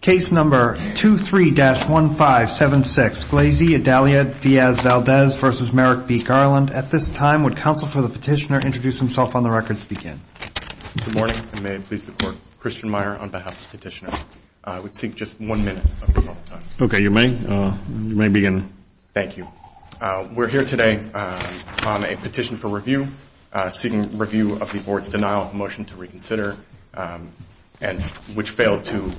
Case number 23-1576. Glazy, Adalia, Diaz-Valdez v. Merrick v. Garland. At this time, would counsel for the petitioner introduce himself on the record to begin? Good morning, and may it please the court. Christian Meyer on behalf of the petitioner. I would seek just one minute of your time. Okay, you may. You may begin. Thank you. We're here today on a petition for review, seeking review of the board's denial of a motion to reconsider, which failed to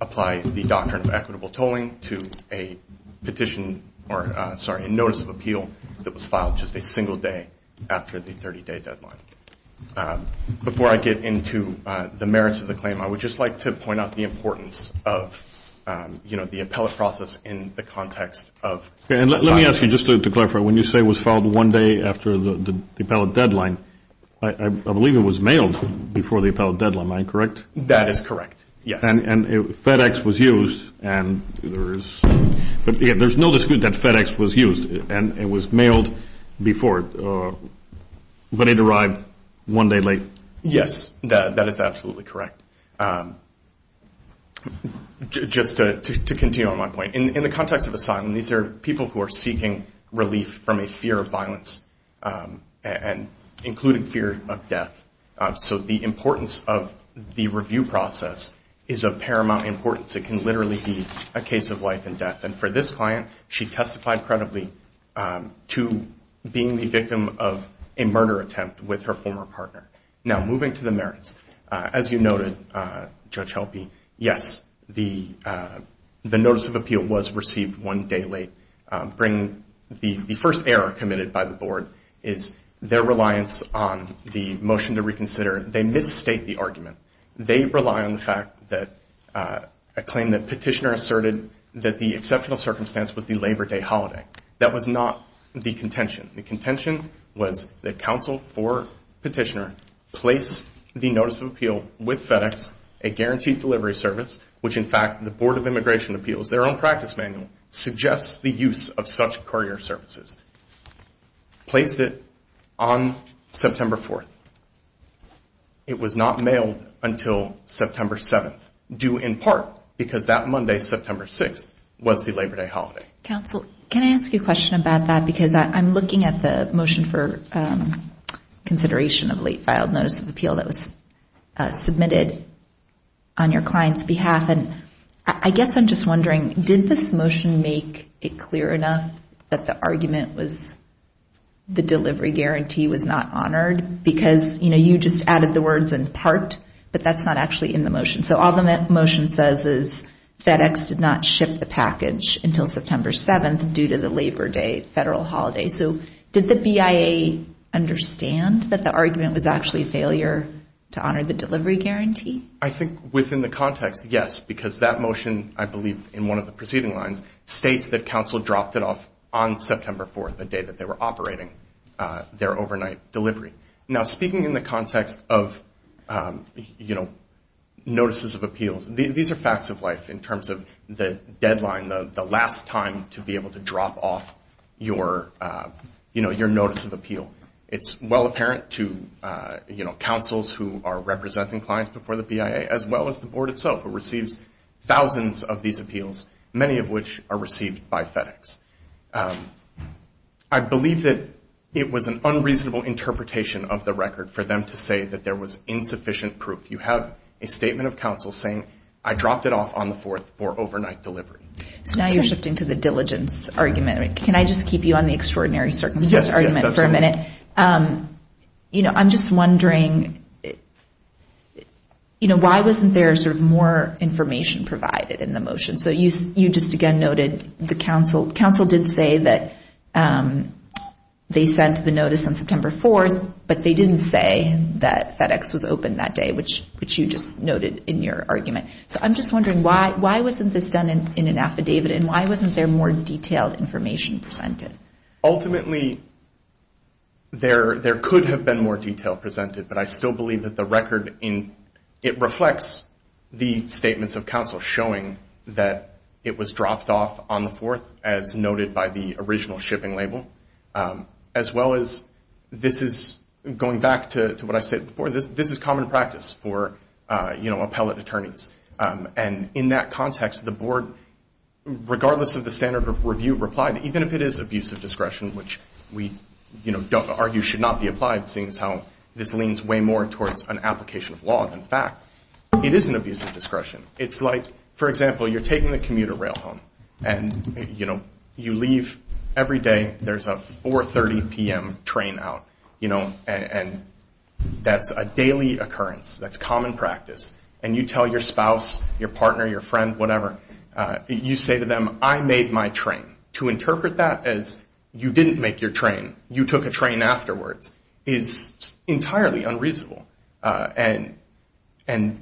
apply the doctrine of equitable tolling to a notice of appeal that was filed just a single day after the 30-day deadline. Before I get into the merits of the claim, I would just like to point out the importance of, you know, the appellate process in the context of asylum. Let me ask you, just to clarify, when you say it was filed one day after the appellate deadline, I believe it was mailed before the appellate deadline. Am I correct? That is correct, yes. And FedEx was used, and there is no dispute that FedEx was used, and it was mailed before, but it arrived one day late. Yes, that is absolutely correct. Just to continue on my point, in the context of asylum, these are people who are seeking relief from a fear of violence, including fear of death. So the importance of the review process is of paramount importance. It can literally be a case of life and death. And for this client, she testified credibly to being the victim of a murder attempt with her former partner. Now, moving to the merits, as you noted, Judge Helpe, yes, the notice of appeal was received one day late. The first error committed by the Board is their reliance on the motion to reconsider. They misstate the argument. They rely on the fact that a claim that Petitioner asserted that the exceptional circumstance was the Labor Day holiday. That was not the contention. The contention was that counsel for Petitioner placed the notice of appeal with FedEx, a guaranteed delivery service, which in fact the Board of Immigration Appeals, their own practice manual, suggests the use of such courier services. Placed it on September 4th. It was not mailed until September 7th, due in part because that Monday, September 6th, was the Labor Day holiday. Counsel, can I ask you a question about that? Because I'm looking at the motion for consideration of late filed notice of appeal that was submitted on your client's behalf. And I guess I'm just wondering, did this motion make it clear enough that the argument was the delivery guarantee was not honored? Because, you know, you just added the words in part, but that's not actually in the motion. So all the motion says is FedEx did not ship the package until September 7th due to the Labor Day federal holiday. So did the BIA understand that the argument was actually a failure to honor the delivery guarantee? I think within the context, yes, because that motion, I believe in one of the preceding lines, states that counsel dropped it off on September 4th, the day that they were operating their overnight delivery. Now, speaking in the context of notices of appeals, these are facts of life in terms of the deadline, the last time to be able to drop off your notice of appeal. It's well apparent to counsels who are representing clients before the BIA, as well as the board itself, who receives thousands of these appeals, many of which are received by FedEx. I believe that it was an unreasonable interpretation of the record for them to say that there was insufficient proof. You have a statement of counsel saying, I dropped it off on the 4th for overnight delivery. So now you're shifting to the diligence argument. Can I just keep you on the extraordinary circumstances argument for a minute? Yes, absolutely. You know, I'm just wondering, you know, why wasn't there sort of more information provided in the motion? So you just, again, noted the counsel. Counsel did say that they sent the notice on September 4th, but they didn't say that FedEx was open that day, which you just noted in your argument. So I'm just wondering, why wasn't this done in an affidavit, and why wasn't there more detailed information presented? Ultimately, there could have been more detail presented, but I still believe that the record, it reflects the statements of counsel showing that it was dropped off on the 4th, as noted by the original shipping label, as well as this is, going back to what I said before, this is common practice for, you know, appellate attorneys. And in that context, the Board, regardless of the standard of review, replied, even if it is abusive discretion, which we, you know, argue should not be applied, seeing as how this leans way more towards an application of law than fact, it is an abusive discretion. It's like, for example, you're taking the commuter rail home, and, you know, you leave every day. There's a 4.30 p.m. train out, you know, and that's a daily occurrence. That's common practice. And you tell your spouse, your partner, your friend, whatever, you say to them, I made my train. To interpret that as you didn't make your train, you took a train afterwards, is entirely unreasonable. And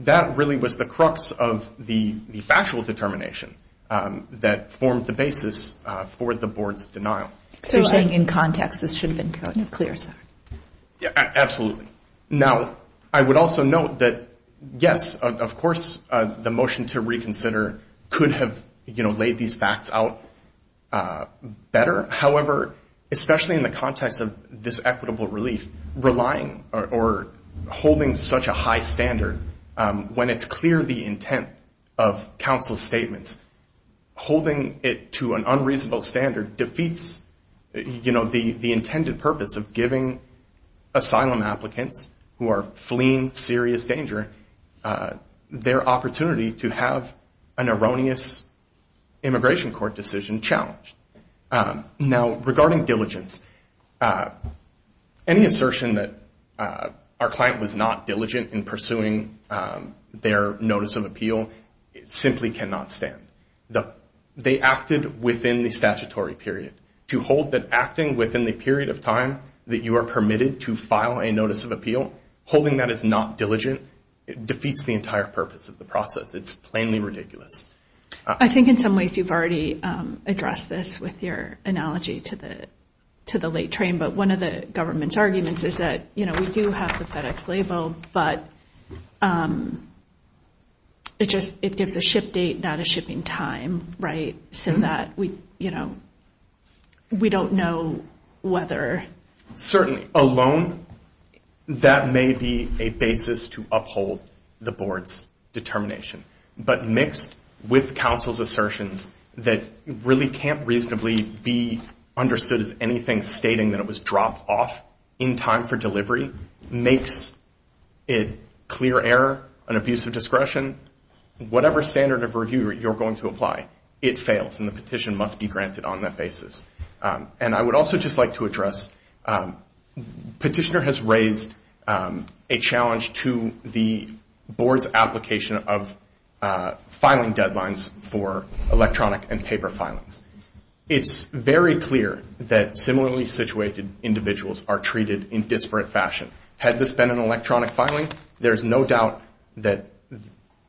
that really was the crux of the factual determination that formed the basis for the Board's denial. So you're saying in context this should have been clear, sir? Absolutely. Now, I would also note that, yes, of course, the motion to reconsider could have, you know, laid these facts out better. However, especially in the context of this equitable relief, relying or holding such a high standard, when it's clear the intent of counsel's statements, holding it to an unreasonable standard defeats, you know, the intended purpose of giving asylum applicants who are fleeing serious danger their opportunity to have an erroneous immigration court decision challenged. Now, regarding diligence, any assertion that our client was not diligent in pursuing their notice of appeal simply cannot stand. They acted within the statutory period. To hold that acting within the period of time that you are permitted to file a notice of appeal, holding that as not diligent, it defeats the entire purpose of the process. It's plainly ridiculous. I think in some ways you've already addressed this with your analogy to the late train, but one of the government's arguments is that, you know, we do have the FedEx label, but it gives a ship date, not a shipping time, right? So that, you know, we don't know whether... Certainly. A loan, that may be a basis to uphold the board's determination. But mixed with counsel's assertions that really can't reasonably be understood as anything stating that it was dropped off in time for delivery makes it clear error, an abuse of discretion. Whatever standard of review you're going to apply, it fails, and the petition must be granted on that basis. And I would also just like to address petitioner has raised a challenge to the board's application of filing deadlines for electronic and paper filings. It's very clear that similarly situated individuals are treated in disparate fashion. Had this been an electronic filing, there's no doubt that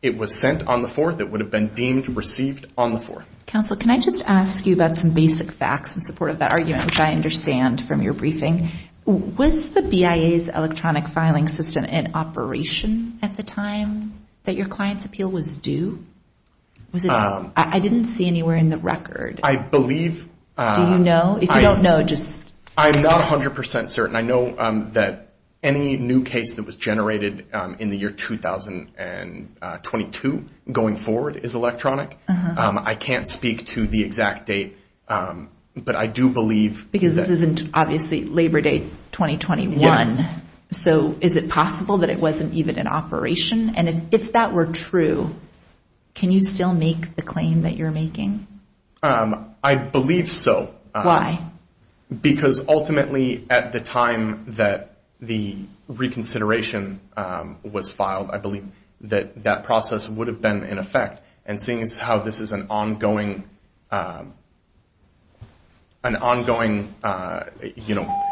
it was sent on the 4th, it would have been deemed received on the 4th. Counsel, can I just ask you about some basic facts in support of that argument, which I understand from your briefing? Was the BIA's electronic filing system in operation at the time that your client's appeal was due? I didn't see anywhere in the record. I believe. Do you know? If you don't know, just. I'm not 100% certain. I know that any new case that was generated in the year 2022 going forward is electronic. I can't speak to the exact date, but I do believe. Because this isn't obviously Labor Day 2021. So is it possible that it wasn't even in operation? And if that were true, can you still make the claim that you're making? I believe so. Because ultimately at the time that the reconsideration was filed, I believe that that process would have been in effect. And seeing as how this is an ongoing, you know,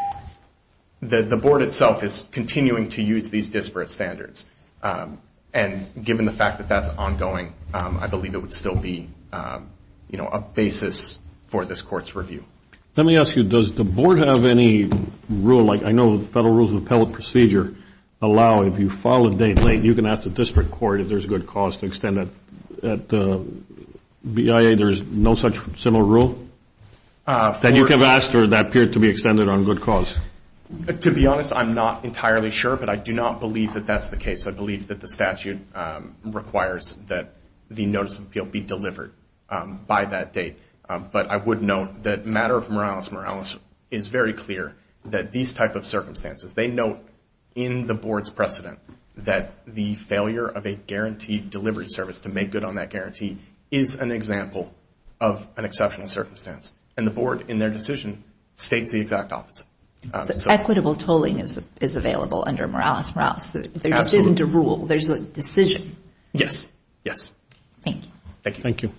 the board itself is continuing to use these disparate standards. And given the fact that that's ongoing, I believe it would still be, you know, a basis for this court's review. Let me ask you, does the board have any rule? I know the Federal Rules of Appellate Procedure allow if you file a date late, you can ask the district court if there's good cause to extend it. At the BIA, there's no such similar rule? That you can ask for that period to be extended on good cause? To be honest, I'm not entirely sure. But I do not believe that that's the case. I believe that the statute requires that the notice of appeal be delivered by that date. But I would note that matter of moralis moralis is very clear that these type of circumstances, they note in the board's precedent that the failure of a guaranteed delivery service to make good on that guarantee is an example of an exceptional circumstance. And the board, in their decision, states the exact opposite. So equitable tolling is available under moralis moralis. There just isn't a rule. There's a decision. Yes. Yes. Thank you. Thank you.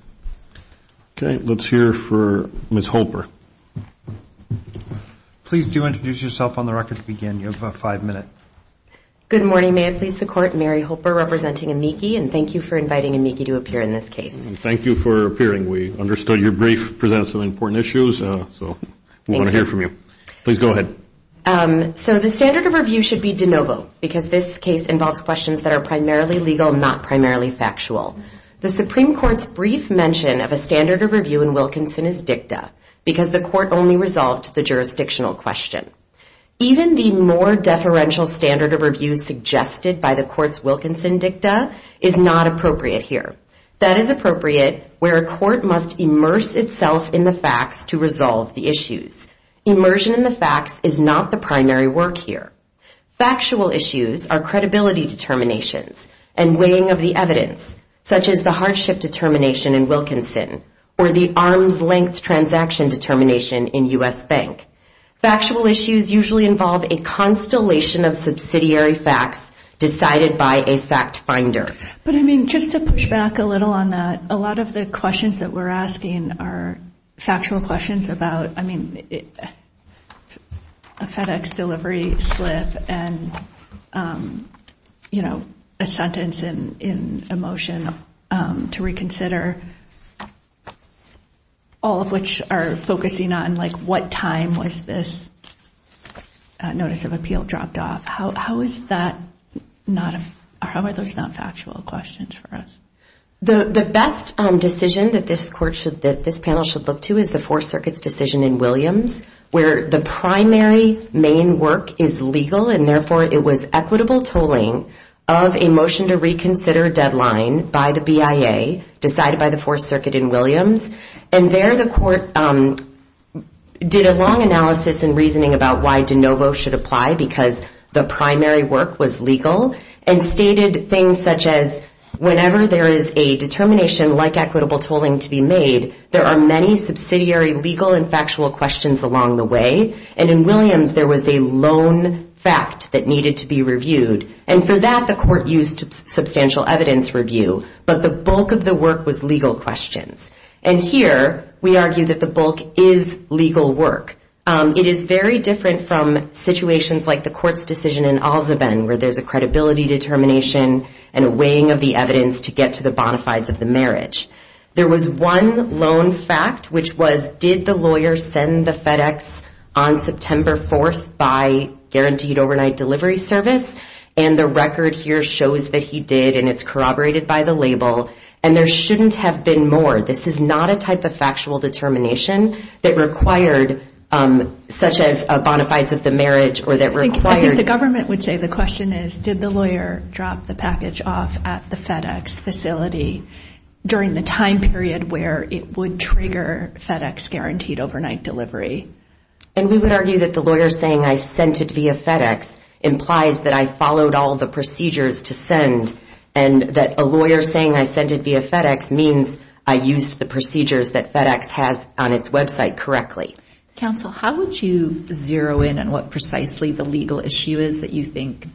Okay. Let's hear for Ms. Holper. Please do introduce yourself on the record to begin. You have five minutes. Good morning. May I please the Court? I'm Mary Holper, representing AMICI, and thank you for inviting AMICI to appear in this case. Thank you for appearing. We understood your brief presents some important issues, so we want to hear from you. Please go ahead. So the standard of review should be de novo because this case involves questions that are primarily legal, not primarily factual. The Supreme Court's brief mention of a standard of review in Wilkinson is dicta because the Court only resolved the jurisdictional question. Even the more deferential standard of review suggested by the Court's Wilkinson dicta is not appropriate here. That is appropriate where a court must immerse itself in the facts to resolve the issues. Immersion in the facts is not the primary work here. Factual issues are credibility determinations and weighing of the evidence, such as the hardship determination in Wilkinson or the arms-length transaction determination in U.S. Bank. Factual issues usually involve a constellation of subsidiary facts decided by a fact finder. But, I mean, just to push back a little on that, a lot of the questions that we're asking are factual questions about, I mean, a FedEx delivery slip and, you know, a sentence in a motion to reconsider, all of which are focusing on, like, what time was this notice of appeal dropped off? How is that not a – how are those not factual questions for us? The best decision that this panel should look to is the Fourth Circuit's decision in Williams where the primary main work is legal and, therefore, it was equitable tolling of a motion to reconsider deadline by the BIA decided by the Fourth Circuit in Williams. And there the court did a long analysis and reasoning about why de novo should apply because the primary work was legal and stated things such as whenever there is a determination like equitable tolling to be made, there are many subsidiary legal and factual questions along the way. And in Williams, there was a lone fact that needed to be reviewed. And for that, the court used substantial evidence review. But the bulk of the work was legal questions. And here, we argue that the bulk is legal work. It is very different from situations like the court's decision in Allsven where there's a credibility determination and a weighing of the evidence to get to the bona fides of the marriage. There was one lone fact, which was did the lawyer send the FedEx on September 4th by guaranteed overnight delivery service? And the record here shows that he did, and it's corroborated by the label. And there shouldn't have been more. This is not a type of factual determination that required such as a bona fides of the marriage or that required... I think the government would say the question is, did the lawyer drop the package off at the FedEx facility during the time period where it would trigger FedEx guaranteed overnight delivery? And we would argue that the lawyer saying I sent it via FedEx implies that I followed all the procedures to send and that a lawyer saying I sent it via FedEx means I used the procedures that FedEx has on its website correctly. Counsel, how would you zero in on what precisely the legal issue is that you think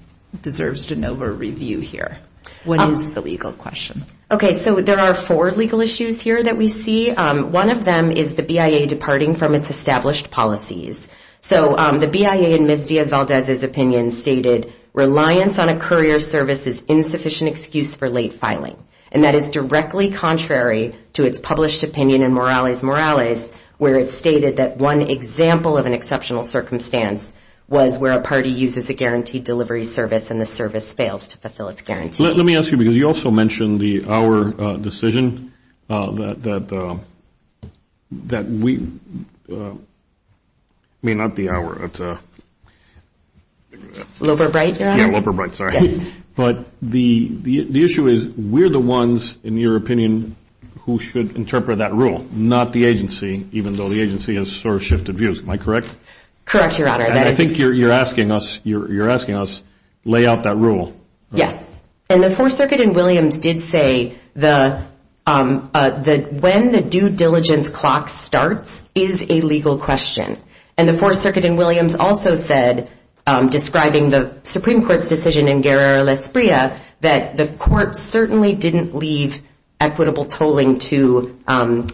deserves de novo review here? What is the legal question? Okay, so there are four legal issues here that we see. One of them is the BIA departing from its established policies. So the BIA, in Ms. Diaz-Valdez's opinion, stated reliance on a courier service is insufficient excuse for late filing. And that is directly contrary to its published opinion in Morales-Morales where it stated that one example of an exceptional circumstance was where a party uses a guaranteed delivery service and the service fails to fulfill its guarantee. Let me ask you because you also mentioned the Auer decision that we... I mean, not the Auer, it's... Loeber-Bright, Your Honor? Yeah, Loeber-Bright, sorry. But the issue is we're the ones, in your opinion, who should interpret that rule, not the agency, even though the agency has sort of shifted views. Am I correct? Correct, Your Honor. And I think you're asking us lay out that rule. Yes. And the Fourth Circuit in Williams did say that when the due diligence clock starts is a legal question. And the Fourth Circuit in Williams also said, describing the Supreme Court's decision in Guerra-Lasprilla, that the courts certainly didn't leave equitable tolling to an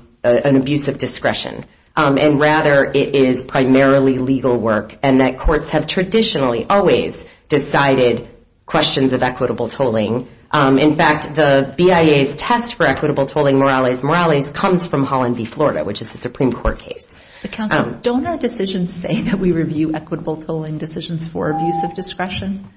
abuse of discretion and rather it is primarily legal work and that courts have traditionally always decided questions of equitable tolling. In fact, the BIA's test for equitable tolling, Morales-Morales, comes from Holland v. Florida, which is a Supreme Court case. Counsel, don't our decisions say that we review equitable tolling decisions for abuse of discretion?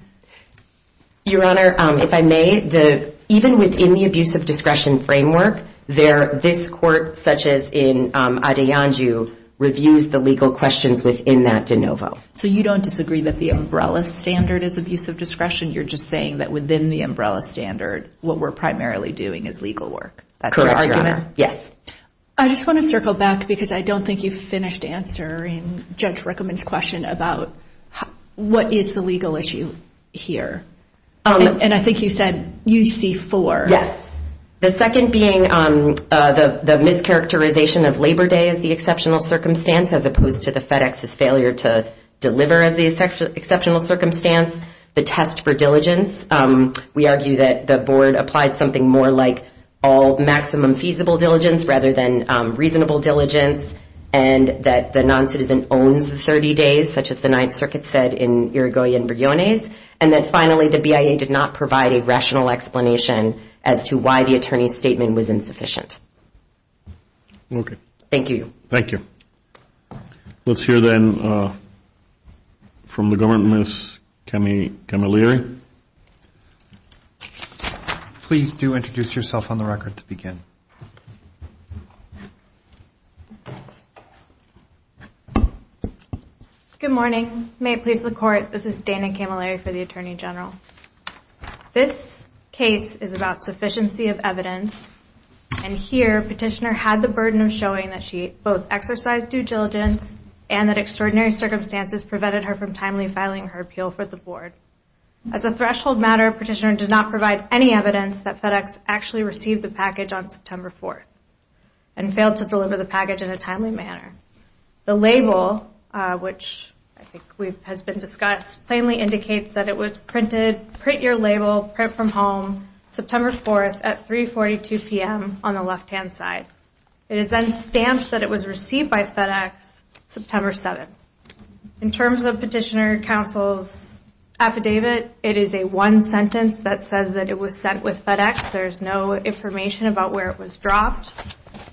Your Honor, if I may, even within the abuse of discretion framework, this court, such as in Adeyanju, reviews the legal questions within that de novo. So you don't disagree that the umbrella standard is abuse of discretion. You're just saying that within the umbrella standard, what we're primarily doing is legal work. That's your argument? Yes. I just want to circle back because I don't think you've finished answering Judge Rickman's question about what is the legal issue here. And I think you said UC4. Yes. The second being the mischaracterization of Labor Day as the exceptional circumstance as opposed to the FedEx's failure to deliver as the exceptional circumstance, the test for diligence. We argue that the board applied something more like all maximum feasible diligence rather than reasonable diligence, and that the noncitizen owns the 30 days, such as the Ninth Circuit said in Irigoyen-Briones, and that, finally, the BIA did not provide a rational explanation as to why the attorney's statement was insufficient. Okay. Thank you. Thank you. Let's hear then from the government, Ms. Camilleri. Please do introduce yourself on the record to begin. Good morning. May it please the Court, this is Dana Camilleri for the Attorney General. This case is about sufficiency of evidence, and here Petitioner had the burden of showing that she both exercised due diligence and that extraordinary circumstances prevented her from timely filing her appeal for the board. As a threshold matter, Petitioner did not provide any evidence that FedEx actually received the package on September 4th and failed to deliver the package in a timely manner. The label, which I think has been discussed, plainly indicates that it was printed, print your label, print from home, September 4th at 3.42 p.m. on the left-hand side. It is then stamped that it was received by FedEx September 7th. In terms of Petitioner Counsel's affidavit, it is a one sentence that says that it was sent with FedEx. There is no information about where it was dropped.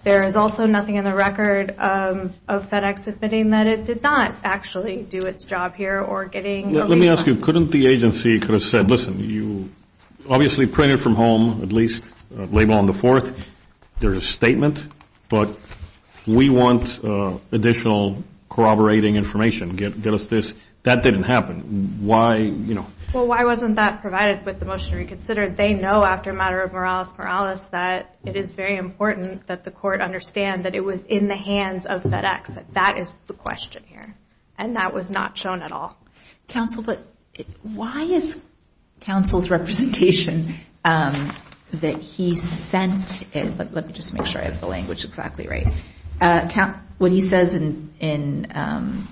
There is also nothing in the record of FedEx admitting that it did not actually do its job here or getting. Let me ask you, couldn't the agency could have said, listen, you obviously printed from home, at least label on the fourth. There is a statement, but we want additional corroborating information. Get us this. That didn't happen. Why, you know? Well, why wasn't that provided with the motion reconsidered? They know after a matter of moralis moralis that it is very important that the court understand that it was in the hands of FedEx, that that is the question here, and that was not shown at all. Counsel, why is counsel's representation that he sent it? Let me just make sure I have the language exactly right. What he says in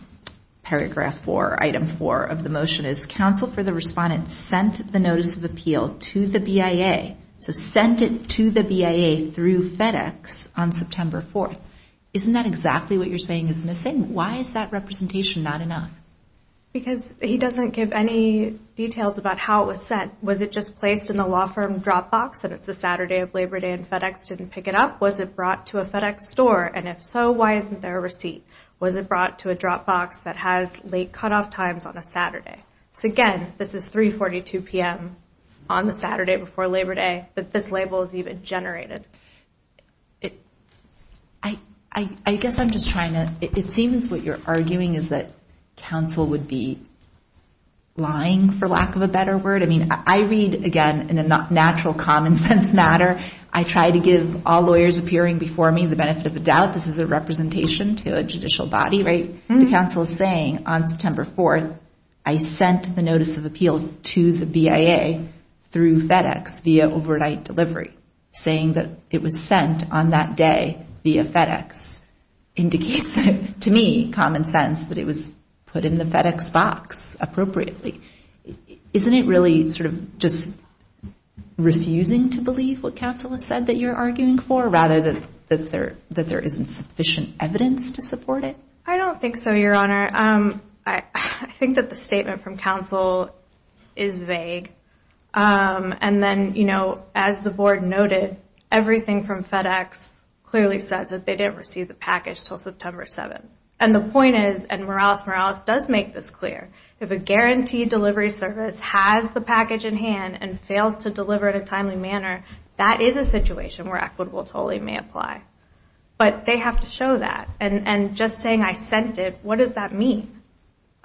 paragraph four, item four of the motion is, counsel for the respondent sent the notice of appeal to the BIA, so sent it to the BIA through FedEx on September 4th. Isn't that exactly what you're saying is missing? Why is that representation not enough? Because he doesn't give any details about how it was sent. Was it just placed in the law firm drop box and it's the Saturday of Labor Day and FedEx didn't pick it up? Was it brought to a FedEx store? And if so, why isn't there a receipt? Was it brought to a drop box that has late cutoff times on a Saturday? So, again, this is 3.42 p.m. on the Saturday before Labor Day, but this label is even generated. I guess I'm just trying to, it seems what you're arguing is that counsel would be lying, for lack of a better word. I mean, I read, again, in a natural common sense matter, I try to give all lawyers appearing before me the benefit of the doubt this is a representation to a judicial body, right? The counsel is saying on September 4th, I sent the notice of appeal to the BIA through FedEx via overnight delivery. Saying that it was sent on that day via FedEx indicates, to me, common sense that it was put in the FedEx box appropriately. Isn't it really sort of just refusing to believe what counsel has said that you're arguing for rather than that there isn't sufficient evidence to support it? I don't think so, Your Honor. I think that the statement from counsel is vague. And then, you know, as the board noted, everything from FedEx clearly says that they didn't receive the package until September 7th. And the point is, and Morales-Morales does make this clear, if a guaranteed delivery service has the package in hand and fails to deliver it in a timely manner, that is a situation where equitable tolling may apply. But they have to show that. And just saying I sent it, what does that mean?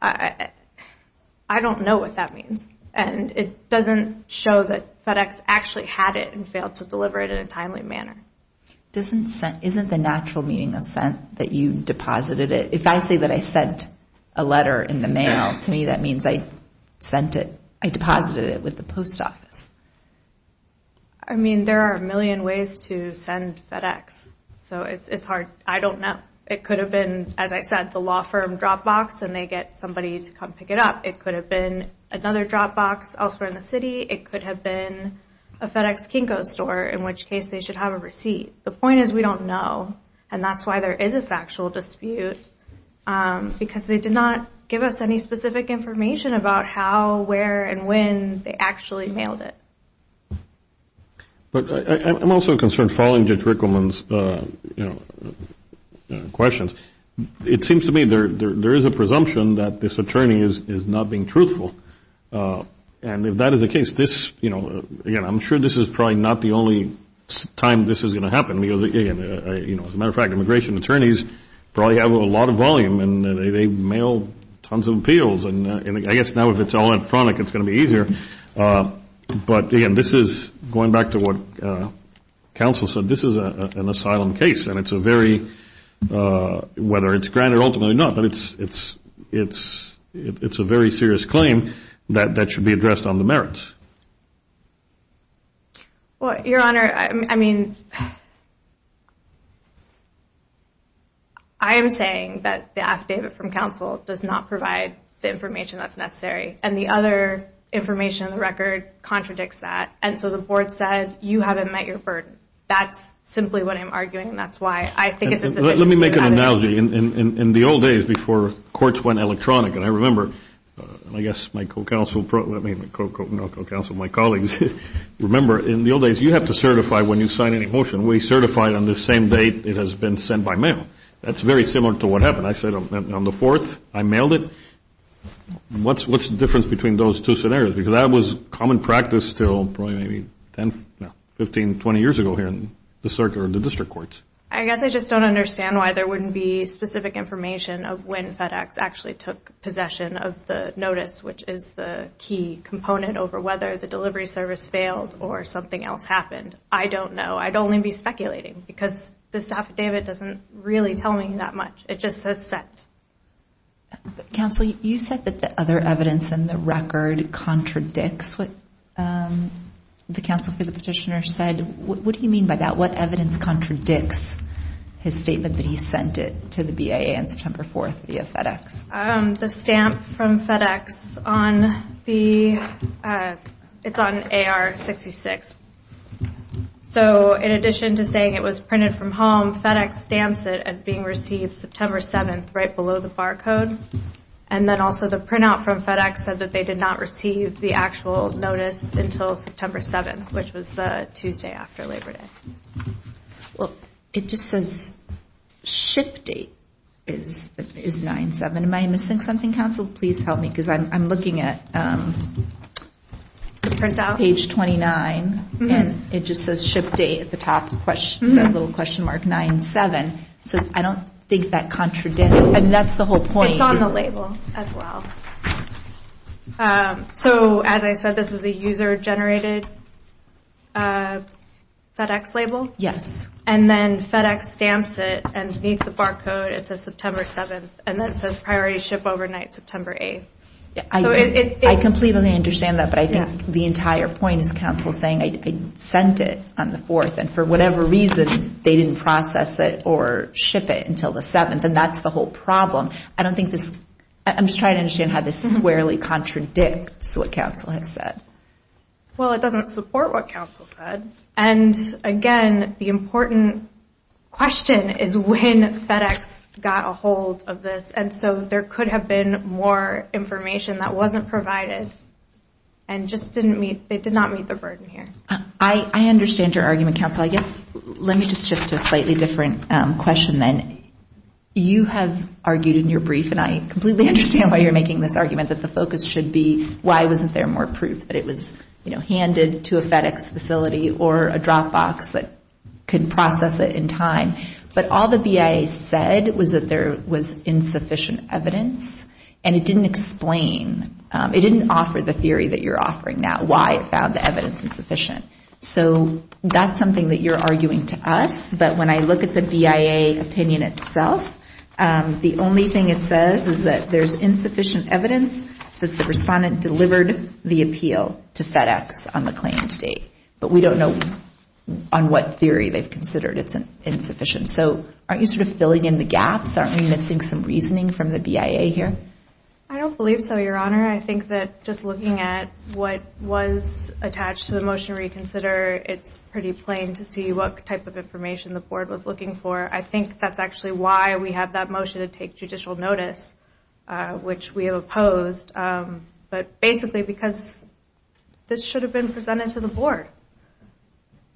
I don't know what that means. And it doesn't show that FedEx actually had it and failed to deliver it in a timely manner. Isn't the natural meaning of sent that you deposited it? If I say that I sent a letter in the mail, to me that means I sent it, I deposited it with the post office. I mean, there are a million ways to send FedEx. So it's hard. I don't know. It could have been, as I said, the law firm drop box and they get somebody to come pick it up. It could have been another drop box elsewhere in the city. It could have been a FedEx Kinko store, in which case they should have a receipt. The point is we don't know, and that's why there is a factual dispute, because they did not give us any specific information about how, where, and when they actually mailed it. I'm also concerned, following Judge Rickleman's questions, it seems to me there is a presumption that this attorney is not being truthful. And if that is the case, again, I'm sure this is probably not the only time this is going to happen, because, as a matter of fact, immigration attorneys probably have a lot of volume, and they mail tons of appeals. And I guess now if it's all in front, it's going to be easier. But, again, this is, going back to what counsel said, this is an asylum case, and it's a very, whether it's granted or ultimately not, but it's a very serious claim that should be addressed on the merits. Well, Your Honor, I mean, I am saying that the affidavit from counsel does not provide the information that's necessary, and the other information in the record contradicts that. And so the board said you haven't met your burden. That's simply what I'm arguing, and that's why I think it's a situation Let me make an analogy. In the old days, before courts went electronic, and I remember, and I guess my co-counsel, I mean, not co-counsel, my colleagues, remember in the old days, you have to certify when you sign any motion. We certified on the same date it has been sent by mail. That's very similar to what happened. I said on the 4th, I mailed it. What's the difference between those two scenarios? Because that was common practice until probably maybe 10, no, 15, 20 years ago here in the district courts. I guess I just don't understand why there wouldn't be specific information of when FedEx actually took possession of the notice, which is the key component over whether the delivery service failed or something else happened. I don't know. I'd only be speculating because the affidavit doesn't really tell me that much. It just says sent. Counsel, you said that the other evidence in the record contradicts what the counsel for the petitioner said. What do you mean by that? What evidence contradicts his statement that he sent it to the BIA on September 4th via FedEx? The stamp from FedEx on the AR66. In addition to saying it was printed from home, FedEx stamps it as being received September 7th right below the barcode. Then also the printout from FedEx said that they did not receive the actual notice until September 7th, which was the Tuesday after Labor Day. It just says ship date is 9-7. Am I missing something, counsel? Please help me because I'm looking at page 29, and it just says ship date at the top, the little question mark, 9-7. I don't think that contradicts. That's the whole point. It's on the label as well. As I said, this was a user-generated FedEx label? Yes. Then FedEx stamps it and beneath the barcode it says September 7th, and then it says priority ship overnight September 8th. I completely understand that, but I think the entire point is counsel saying I sent it on the 4th, and for whatever reason they didn't process it or ship it until the 7th, and that's the whole problem. I'm just trying to understand how this squarely contradicts what counsel has said. Well, it doesn't support what counsel said. Again, the important question is when FedEx got a hold of this, and so there could have been more information that wasn't provided and they did not meet the burden here. I understand your argument, counsel. Let me just shift to a slightly different question then. You have argued in your brief, and I completely understand why you're making this argument that the focus should be why wasn't there more proof that it was handed to a FedEx facility or a drop box that could process it in time, but all the BIA said was that there was insufficient evidence, and it didn't explain. It didn't offer the theory that you're offering now, why it found the evidence insufficient. So that's something that you're arguing to us, but when I look at the BIA opinion itself, the only thing it says is that there's insufficient evidence that the respondent delivered the appeal to FedEx on the claim to date, but we don't know on what theory they've considered it's insufficient. So aren't you sort of filling in the gaps? Aren't we missing some reasoning from the BIA here? I don't believe so, Your Honor. I think that just looking at what was attached to the Motion to Reconsider, it's pretty plain to see what type of information the board was looking for. I think that's actually why we have that motion to take judicial notice, which we have opposed, but basically because this should have been presented to the board,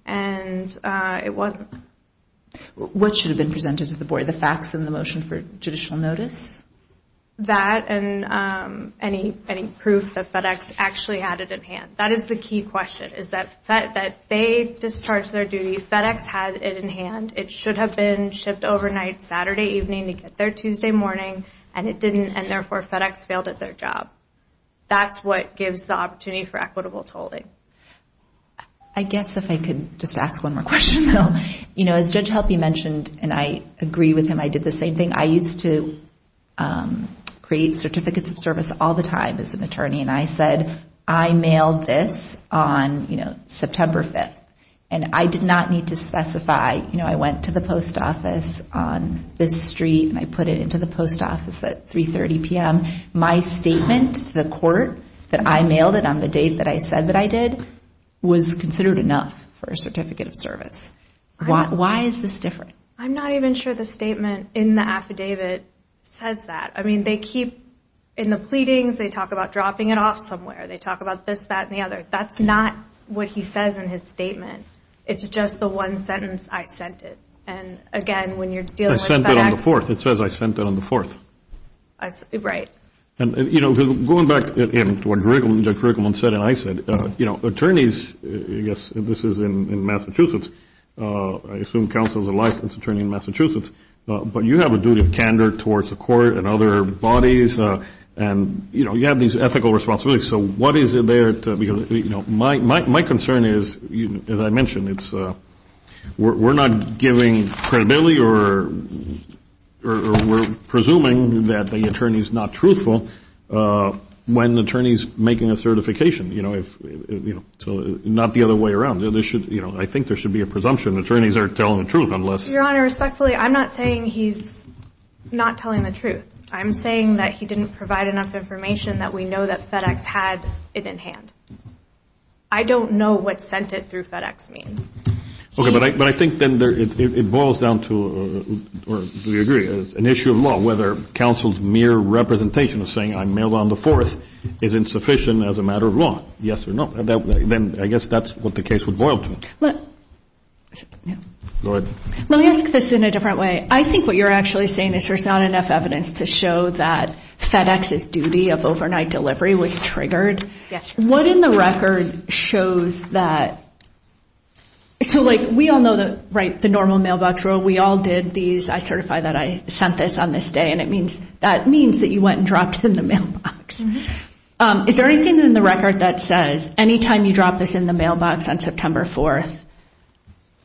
and it wasn't. What should have been presented to the board, the facts and the motion for judicial notice? That and any proof that FedEx actually had it in hand. That is the key question, is that they discharged their duty. FedEx had it in hand. It should have been shipped overnight Saturday evening to get there Tuesday morning, and it didn't, and therefore FedEx failed at their job. That's what gives the opportunity for equitable tolling. I guess if I could just ask one more question, though. As Judge Helpe mentioned, and I agree with him, I did the same thing. I used to create certificates of service all the time as an attorney, and I said I mailed this on, you know, September 5th, and I did not need to specify, you know, I went to the post office on this street and I put it into the post office at 3.30 p.m. My statement to the court that I mailed it on the date that I said that I did was considered enough for a certificate of service. Why is this different? I'm not even sure the statement in the affidavit says that. I mean, they keep, in the pleadings, they talk about dropping it off somewhere. They talk about this, that, and the other. That's not what he says in his statement. It's just the one sentence, I sent it. And, again, when you're dealing with FedEx. I sent it on the 4th. It says I sent it on the 4th. Right. You know, going back to what Judge Rickleman said and I said, you know, attorneys, I guess this is in Massachusetts, I assume counsel is a licensed attorney in Massachusetts, but you have a duty of candor towards the court and other bodies, and, you know, you have these ethical responsibilities. So what is there to, you know, my concern is, as I mentioned, we're not giving credibility or we're presuming that the attorney is not truthful when the attorney is making a certification, you know, so not the other way around. You know, I think there should be a presumption. Attorneys aren't telling the truth unless. Your Honor, respectfully, I'm not saying he's not telling the truth. I'm saying that he didn't provide enough information that we know that FedEx had it in hand. I don't know what sent it through FedEx means. Okay. But I think then it boils down to, or do we agree, an issue of law, whether counsel's mere representation of saying I mailed on the 4th is insufficient as a matter of law. Yes or no? Then I guess that's what the case would boil to. Go ahead. Let me ask this in a different way. I think what you're actually saying is there's not enough evidence to show that FedEx's duty of overnight delivery was triggered. Yes. What in the record shows that? So, like, we all know the normal mailbox rule. We all did these. I certify that I sent this on this day, and that means that you went and dropped it in the mailbox. Is there anything in the record that says any time you drop this in the mailbox on September 4th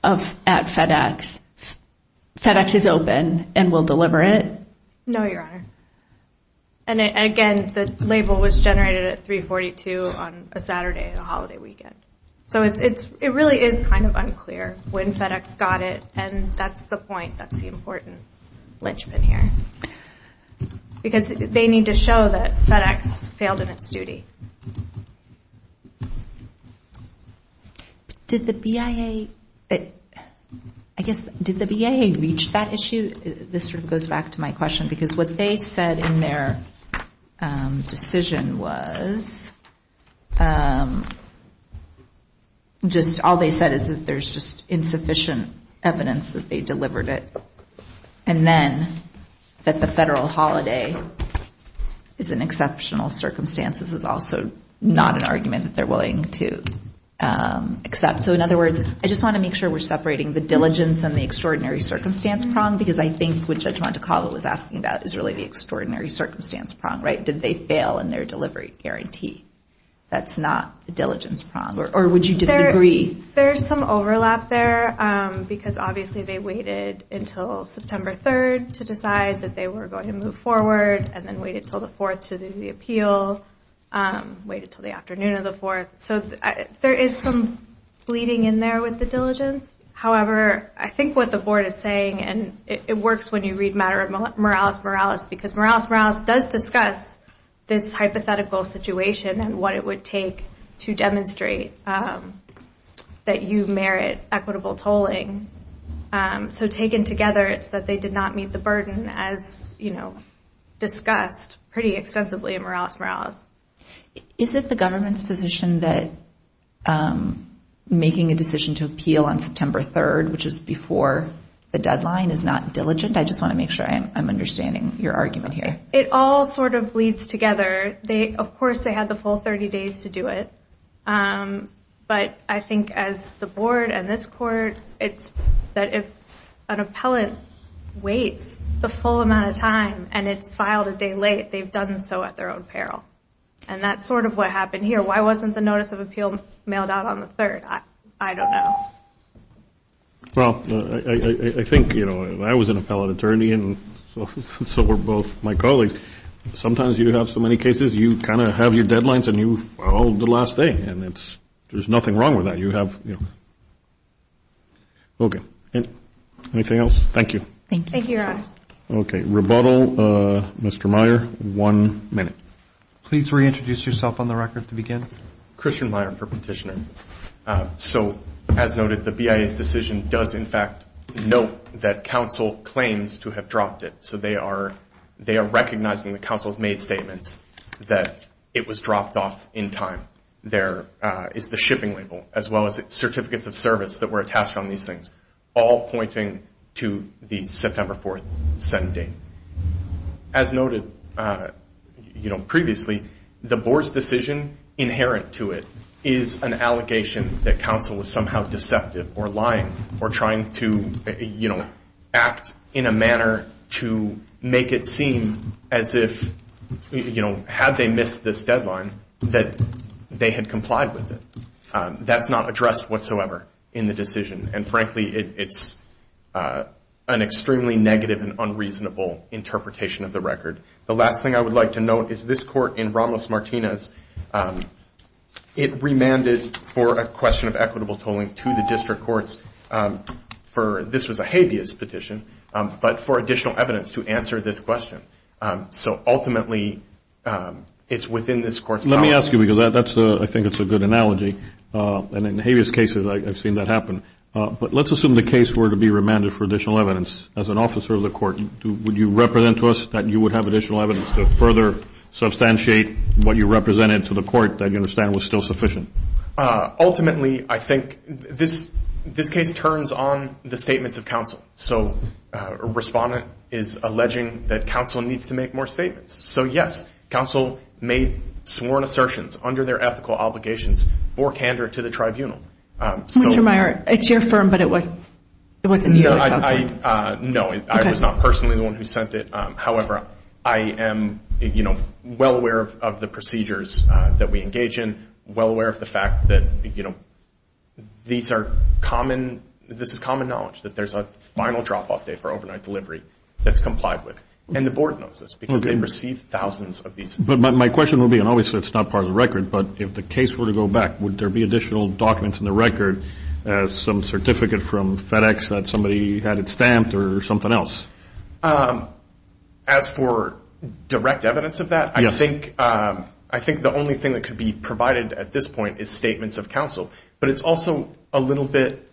at FedEx, FedEx is open and will deliver it? No, Your Honor. And, again, the label was generated at 342 on a Saturday, a holiday weekend. So it really is kind of unclear when FedEx got it, and that's the point. That's the important linchpin here. Because they need to show that FedEx failed in its duty. Did the BIA, I guess, did the BIA reach that issue? This sort of goes back to my question, because what they said in their decision was just all they said is that there's just insufficient evidence that they delivered it. And then that the federal holiday is in exceptional circumstances is also not an argument that they're willing to accept. So, in other words, I just want to make sure we're separating the diligence and the extraordinary circumstance prong, because I think what Judge Montecalvo was asking about is really the extraordinary circumstance prong, right? Did they fail in their delivery guarantee? That's not the diligence prong. Or would you disagree? There's some overlap there, because obviously they waited until September 3rd to decide that they were going to move forward, and then waited until the 4th to do the appeal, waited until the afternoon of the 4th. So there is some bleeding in there with the diligence. However, I think what the board is saying, and it works when you read matter of moralis moralis, because moralis moralis does discuss this hypothetical situation and what it would take to demonstrate that you merit equitable tolling. So taken together, it's that they did not meet the burden as, you know, discussed pretty extensively in moralis moralis. Is it the government's position that making a decision to appeal on September 3rd, which is before the deadline, is not diligent? I just want to make sure I'm understanding your argument here. It all sort of bleeds together. Of course they had the full 30 days to do it, but I think as the board and this court, it's that if an appellant waits the full amount of time and it's filed a day late, they've done so at their own peril. And that's sort of what happened here. Why wasn't the notice of appeal mailed out on the 3rd? I don't know. Well, I think, you know, I was an appellant attorney, and so were both my colleagues. Sometimes you have so many cases, you kind of have your deadlines and you file the last day, and there's nothing wrong with that. You have, you know. Okay. Anything else? Thank you. Thank you, Your Honors. Okay. Rebuttal, Mr. Meyer, one minute. Please reintroduce yourself on the record to begin. Christian Meyer, perpetitioner. So, as noted, the BIA's decision does, in fact, note that counsel claims to have dropped it. So they are recognizing the counsel's made statements that it was dropped off in time. There is the shipping label as well as certificates of service that were attached on these things, all pointing to the September 4th sending. As noted, you know, previously, the board's decision inherent to it is an allegation that counsel was somehow deceptive or lying or trying to, you know, act in a manner to make it seem as if, you know, had they missed this deadline that they had complied with it. That's not addressed whatsoever in the decision, and, frankly, it's an extremely negative and unreasonable interpretation of the record. The last thing I would like to note is this court in Ramos-Martinez, it remanded for a question of equitable tolling to the district courts for this was a habeas petition, but for additional evidence to answer this question. So, ultimately, it's within this court's power. Let me ask you, because I think it's a good analogy. And in habeas cases, I've seen that happen. But let's assume the case were to be remanded for additional evidence. As an officer of the court, would you represent to us that you would have additional evidence to further substantiate what you represented to the court that you understand was still sufficient? Ultimately, I think this case turns on the statements of counsel. So a respondent is alleging that counsel needs to make more statements. So, yes, counsel made sworn assertions under their ethical obligations for candor to the tribunal. Mr. Meyer, it's your firm, but it wasn't you. No, I was not personally the one who sent it. However, I am well aware of the procedures that we engage in, well aware of the fact that this is common knowledge, that there's a final drop-off day for overnight delivery that's complied with. And the board knows this because they've received thousands of these. But my question would be, and obviously it's not part of the record, but if the case were to go back, would there be additional documents in the record, some certificate from FedEx that somebody had it stamped or something else? As for direct evidence of that, I think the only thing that could be provided at this point is statements of counsel. But it's also a little bit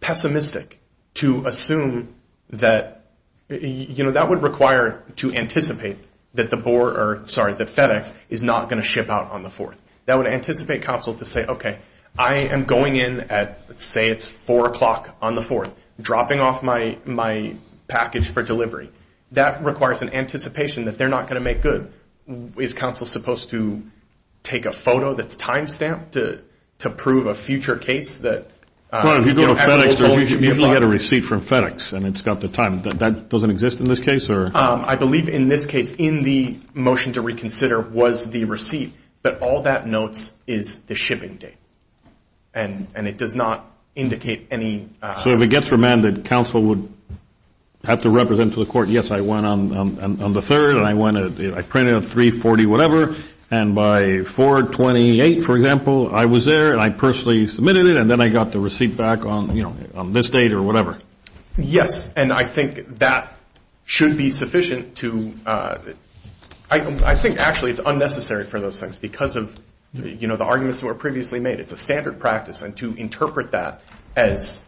pessimistic to assume that, you know, that would require to anticipate that FedEx is not going to ship out on the 4th. That would anticipate counsel to say, okay, I am going in at, let's say it's 4 o'clock on the 4th, dropping off my package for delivery. That requires an anticipation that they're not going to make good. Is counsel supposed to take a photo that's time-stamped to prove a future case? Well, if you go to FedEx, you usually get a receipt from FedEx, and it's got the time. That doesn't exist in this case? I believe in this case, in the motion to reconsider was the receipt. But all that notes is the shipping date. And it does not indicate any – So if it gets remanded, counsel would have to represent to the court, yes, I went on the 3rd, and I printed a 340-whatever. And by 428, for example, I was there, and I personally submitted it, and then I got the receipt back on this date or whatever. Yes. And I think that should be sufficient to – I think actually it's unnecessary for those things because of, you know, the arguments that were previously made. It's a standard practice, and to interpret that as,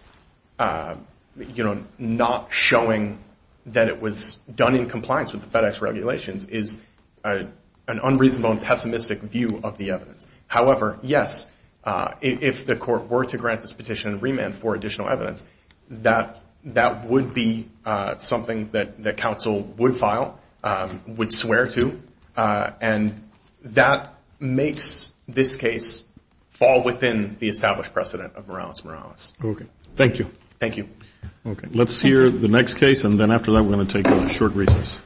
you know, not showing that it was done in compliance with the FedEx regulations is an unreasonable and pessimistic view of the evidence. However, yes, if the court were to grant this petition and remand for additional evidence, that would be something that counsel would file, would swear to. And that makes this case fall within the established precedent of Morales-Morales. Okay. Thank you. Thank you. Okay. Let's hear the next case, and then after that we're going to take a short recess.